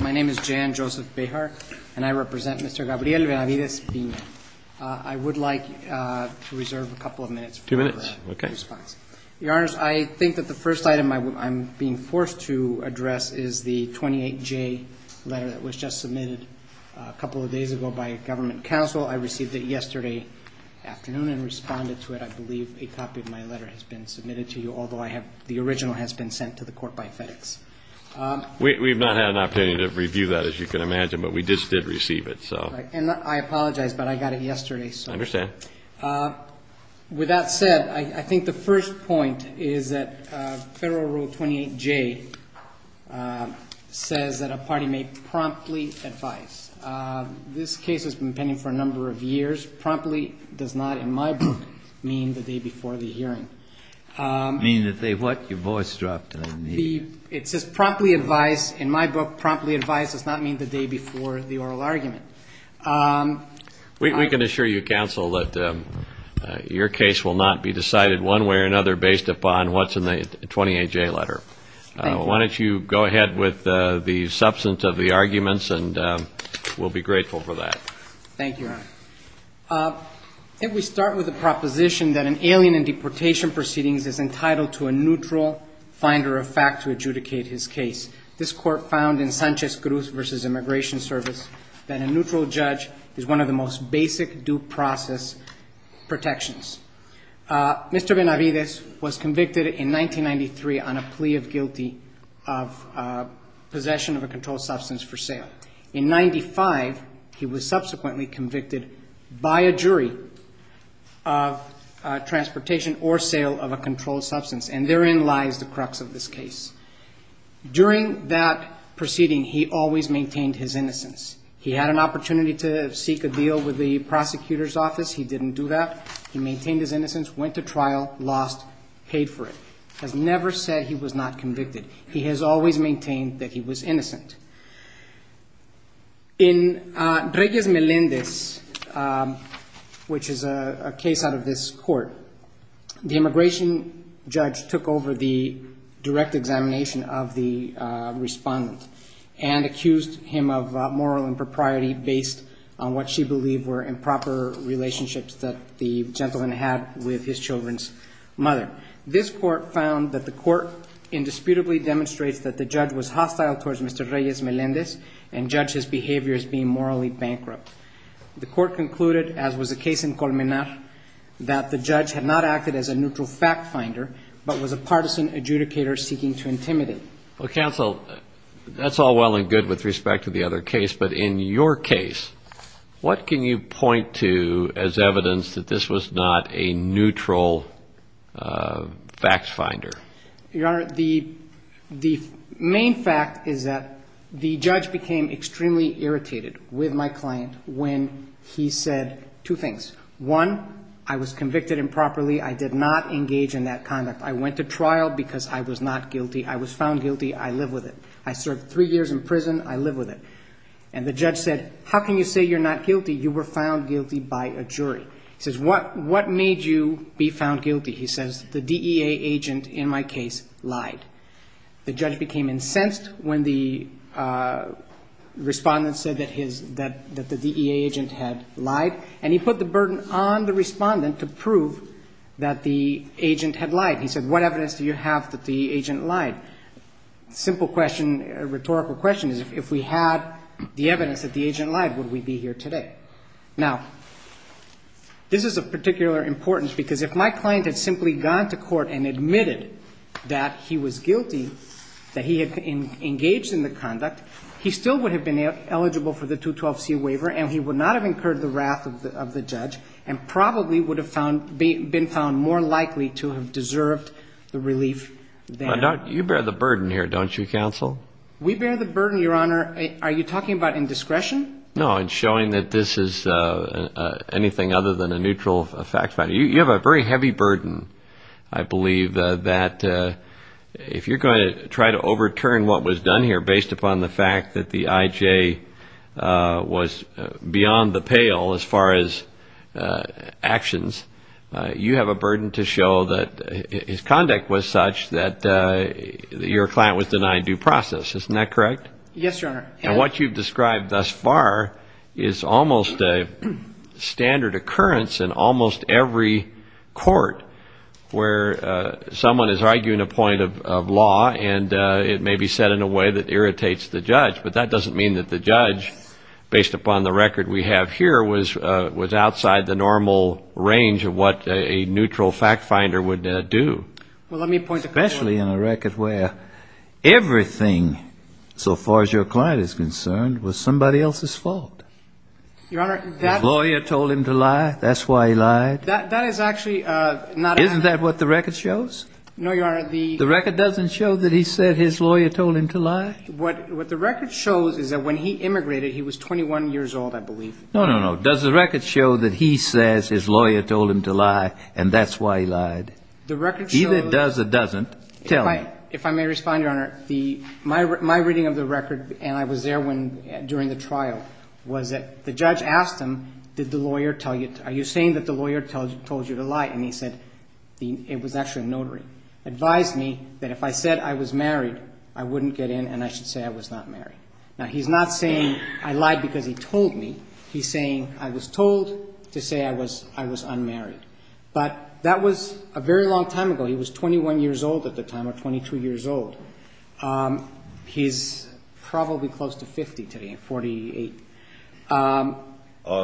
My name is Jan Joseph Behar, and I represent Mr. Gabriel Benavides-Pina. I would like to reserve a couple of minutes for response. Two minutes? Okay. Your Honors, I think that the first item I'm being forced to address is the 28-J letter that was just submitted a couple of days ago by a government counsel. I received it yesterday afternoon and responded to it. I believe a copy of my letter has been submitted to you, although the original has been sent to the Court by FedEx. We've not had an opportunity to review that, as you can imagine, but we just did receive it, so. And I apologize, but I got it yesterday, so. I understand. With that said, I think the first point is that Federal Rule 28-J says that a party may promptly advise. This case has been pending for a number of years. Promptly does not, in my book, mean the day before the hearing. Mean that they what? Your voice dropped and I didn't hear you. It says promptly advise. In my book, promptly advise does not mean the day before the oral argument. We can assure you, Counsel, that your case will not be decided one way or another based upon what's in the 28-J letter. Thank you. Why don't you go ahead with the substance of the arguments and we'll be grateful for that. Thank you, Your Honor. I think we start with the proposition that an alien in deportation proceedings is entitled to a neutral finder of fact to adjudicate his case. This Court found in Sanchez-Gruz v. Immigration Service that a neutral judge is one of the most basic due process protections. Mr. Benavides was convicted in 1993 on a plea of guilty of possession of a controlled substance for sale. In 1995, he was subsequently convicted by a jury of transportation or sale of a controlled substance and therein lies the crux of this case. During that proceeding, he always maintained his innocence. He had an opportunity to seek a deal with the prosecutor's office. He didn't do that. He maintained his innocence, went to trial, lost, paid for it. He has never said he was not convicted. He has always maintained that he was innocent. In Reyes-Melendez, which is a case out of this court, the immigration judge took over the direct examination of the respondent and accused him of moral impropriety based on what she believed were improper relationships that the gentleman had with his children's mother. This court found that the court indisputably demonstrates that the judge was hostile towards Mr. Reyes-Melendez and judged his behavior as being morally bankrupt. The court concluded, as was the case in Colmenar, that the judge had not acted as a neutral fact finder but was a partisan adjudicator seeking to intimidate. Well, counsel, that's all well and good with respect to the other case, but in your case, what can you point to as evidence that this was not a neutral facts finder? Your Honor, the main fact is that the judge became extremely irritated with my client when he said two things. One, I was convicted improperly. I did not engage in that conduct. I went to trial because I was not guilty. I was found guilty. I live with it. I served three years in prison. I live with it. And the judge said, how can you say you're not guilty? You were found guilty by a jury. He says, what made you be found guilty? He says, the DEA agent in my case lied. The judge became incensed when the respondent said that the DEA agent had lied, and he put the burden on the respondent to prove that the agent had lied. He said, what evidence do you have that the agent lied? Simple question, rhetorical question is, if we had the evidence that the agent lied, would we be here today? Now, this is of particular importance, because if my client had simply gone to court and admitted that he was guilty, that he had engaged in the conduct, he still would have been eligible for the 212c waiver, and he would not have incurred the wrath of the judge, and probably would have been found more likely to have deserved the relief than he had. You bear the burden here, don't you, counsel? We bear the burden, Your Honor. Are you talking about indiscretion? No, in showing that this is anything other than a neutral fact finder. You have a very heavy burden, I believe, that if you're going to try to overturn what was done here based upon the fact that the IJ was beyond the pale as far as actions, you have a burden to show that his conduct was such that your client was denied due process. Isn't that correct? Yes, Your Honor. And what you've described thus far is almost a standard occurrence in almost every court where someone is arguing a point of law, and it may be said in a way that irritates the judge. But that doesn't mean that the judge, based upon the record we have here, was outside the normal range of what a neutral fact finder would do, especially in a record where everything so far as your client is concerned was somebody else's fault. His lawyer told him to lie. That's why he lied. Isn't that what the record shows? No, Your Honor. The record doesn't show that he said his lawyer told him to lie? What the record shows is that when he immigrated, he was 21 years old, I believe. No, no, no. Does the record show that he says his lawyer told him to lie, and that's why he lied? The record shows... Either does or doesn't. Tell me. If I may respond, Your Honor, my reading of the record, and I was there during the trial, was that the judge asked him, are you saying that the lawyer told you to lie? And he said, it was actually a notary, advised me that if I said I was married, I wouldn't get in, and I should say I was not married. Now, he's not saying I lied because he told me. He's saying I was told to say I was unmarried. But that was a very long time ago. He was 21 years old at the time, or 22 years old. He's probably close to 50 today, 48. All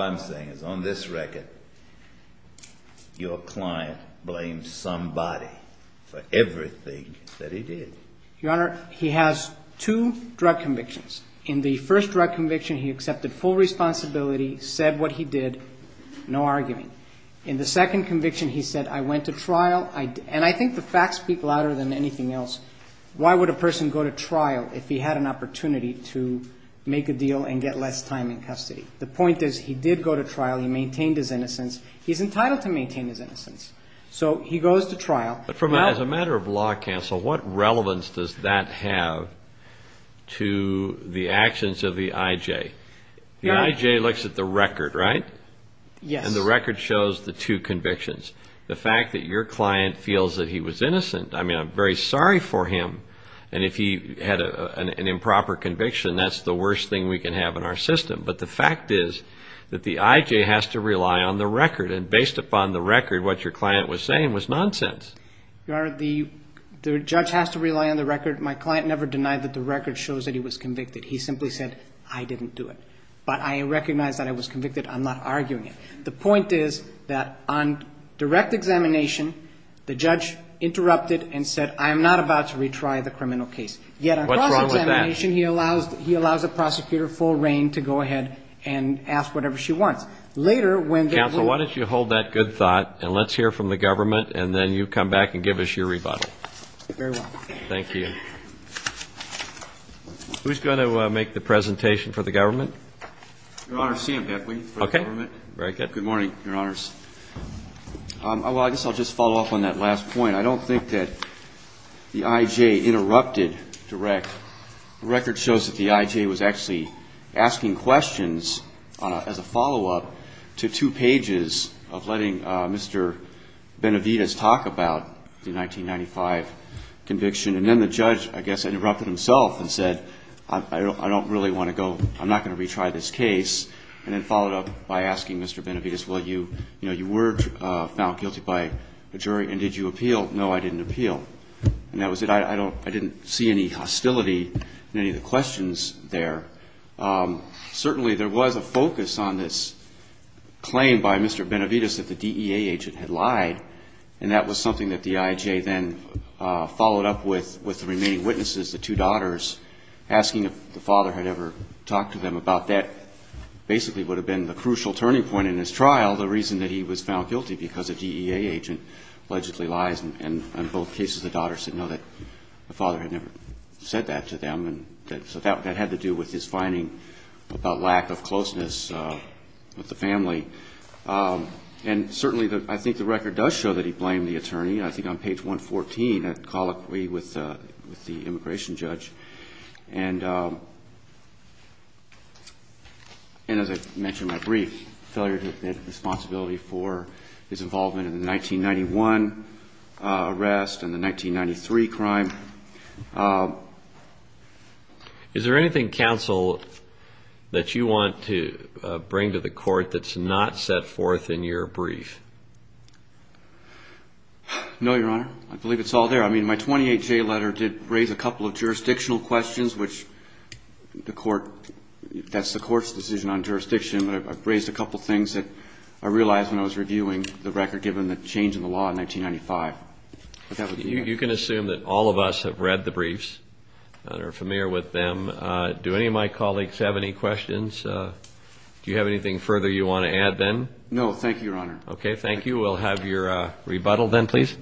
I'm saying is on this record, your client blamed somebody for everything that he did. Your Honor, he has two drug convictions. In the first drug conviction, he accepted full responsibility, said what he did, no arguing. In the second conviction, he said, I went to trial, and I think the facts speak louder than anything else. Why would a person go to trial if he had an opportunity to make a deal and get less time in custody? The point is, he did go to trial, he maintained his innocence. He's entitled to maintain his innocence. So he goes to trial. But as a matter of law counsel, what relevance does that have to the actions of the IJ? The IJ looks at the record, right? Yes. And the record shows the two convictions. The fact that your client feels that he was innocent, I mean, I'm very sorry for him, and if he had an improper conviction, that's the worst thing we can have in our system. But the fact is that the IJ has to rely on the record, and based upon the record, what your client was saying was nonsense. The judge has to rely on the record. My client never denied that the record shows that he was convicted. He simply said, I didn't do it. But I recognize that I was convicted, I'm not arguing it. The point is that on direct examination, the judge interrupted and said, I'm not about to retry the criminal case. Yet on cross-examination, he allows the prosecutor full reign to go ahead and ask whatever she wants. Counsel, why don't you hold that good thought, and let's hear from the government, and then you come back and give us your rebuttal. Very well. Thank you. Who's going to make the presentation for the government? Your Honor, Sam Beckley for the government. Okay. Very good. Good morning, Your Honors. Well, I guess I'll just follow up on that last point. I don't think that the IJ interrupted direct. The record shows that the IJ was actually asking questions as a follow-up to two pages of letting Mr. Benavides talk about the 1995 conviction, and then the judge, I guess, interrupted himself and said, I don't really want to go, I'm not going to retry this case, and then followed up by asking Mr. Benavides, well, you were found guilty by the jury, and did you appeal? No, I didn't appeal. And that was it. I didn't see any hostility in any of the questions there. Certainly there was a focus on this claim by Mr. Benavides that the DEA agent had lied, and that was something that the IJ then followed up with the remaining witnesses, the two daughters, asking if the father had ever talked to them about that. Basically would have been the crucial turning point in his trial, the reason that he was found guilty, because a DEA agent allegedly lies, and in both cases, the daughter said, no, that the father had never said that to them, and so that had to do with his finding about lack of closeness with the family. And certainly, I think the record does show that he blamed the attorney, and I think on page 114, a colloquy with the immigration judge, and as I mentioned in my brief, failure to take responsibility for his involvement in the 1991 arrest and the 1993 crime. Is there anything, counsel, that you want to bring to the court that's not set forth in your brief? No, Your Honor. I believe it's all there. I mean, my 28-J letter did raise a couple of jurisdictional questions, which the court that's the court's decision on jurisdiction, but I've raised a couple things that I realized when I was reviewing the record given the change in the law in 1995. You can assume that all of us have read the briefs and are familiar with them. Do any of my colleagues have any questions? Do you have anything further you want to add then? No. Thank you, Your Honor. Okay. Thank you. We'll have your rebuttal then, please.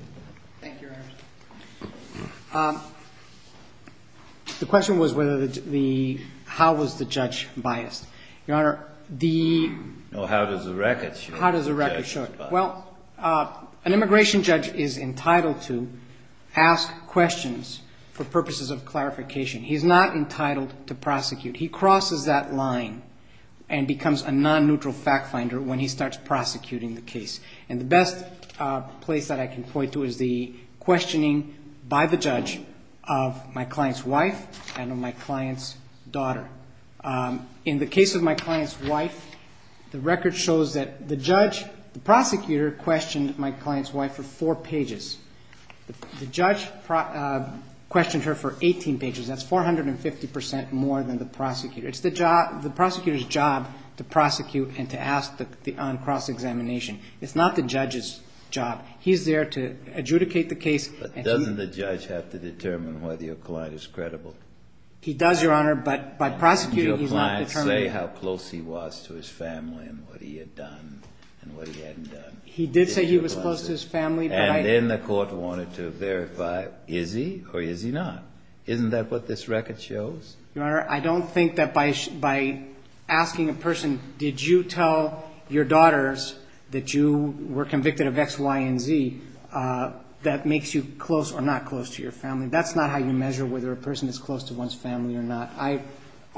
Thank you, Your Honor. Thank you, Your Honor. The question was whether the how was the judge biased. Your Honor, the... Well, how does the record show it? How does the record show it? Well, an immigration judge is entitled to ask questions for purposes of clarification. He's not entitled to prosecute. He crosses that line and becomes a non-neutral fact finder when he starts prosecuting the case. The best place that I can point to is the questioning by the judge of my client's wife and of my client's daughter. In the case of my client's wife, the record shows that the judge, the prosecutor, questioned my client's wife for four pages. The judge questioned her for 18 pages. That's 450% more than the prosecutor. It's the prosecutor's job to prosecute and to ask on cross-examination. It's not the judge's job. He's there to adjudicate the case and he... But doesn't the judge have to determine whether your client is credible? He does, Your Honor, but by prosecuting, he's not determined... Did your client say how close he was to his family and what he had done and what he hadn't done? He did say he was close to his family, but I... And then the court wanted to verify, is he or is he not? Isn't that what this record shows? Your Honor, I don't think that by asking a person, did you tell your daughters that you were convicted of X, Y, and Z, that makes you close or not close to your family. That's not how you measure whether a person is close to one's family or not.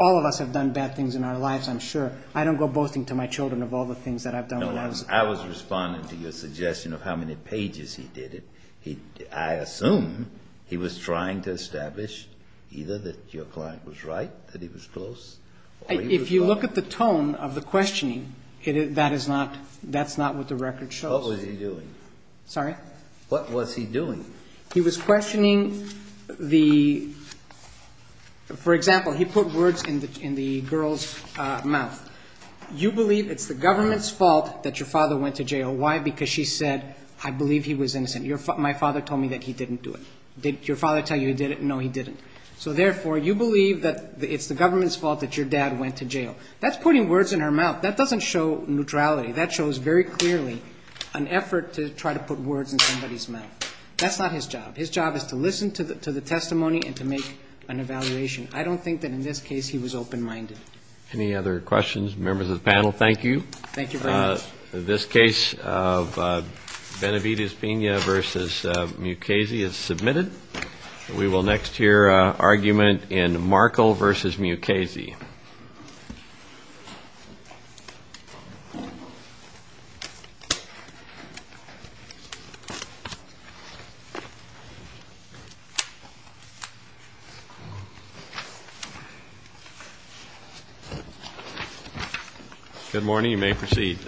All of us have done bad things in our lives, I'm sure. I don't go boasting to my children of all the things that I've done when I was... No, I was responding to your suggestion of how many pages he did it. I assume he was trying to establish either that your client was right, that he was close... If you look at the tone of the questioning, that is not... That's not what the record shows. What was he doing? Sorry? What was he doing? He was questioning the... For example, he put words in the girl's mouth. You believe it's the government's fault that your father went to jail. Why? Because she said, I believe he was innocent. My father told me that he didn't do it. Did your father tell you he did it? No, he didn't. So therefore, you believe that it's the government's fault that your dad went to jail. That's putting words in her mouth. That doesn't show neutrality. That shows very clearly an effort to try to put words in somebody's mouth. That's not his job. His job is to listen to the testimony and to make an evaluation. I don't think that in this case he was open-minded. Any other questions, members of the panel? Thank you. Thank you very much. This case of Benavides-Pena v. Mukasey is submitted. We will next hear argument in Markle v. Mukasey. Good morning. You may proceed.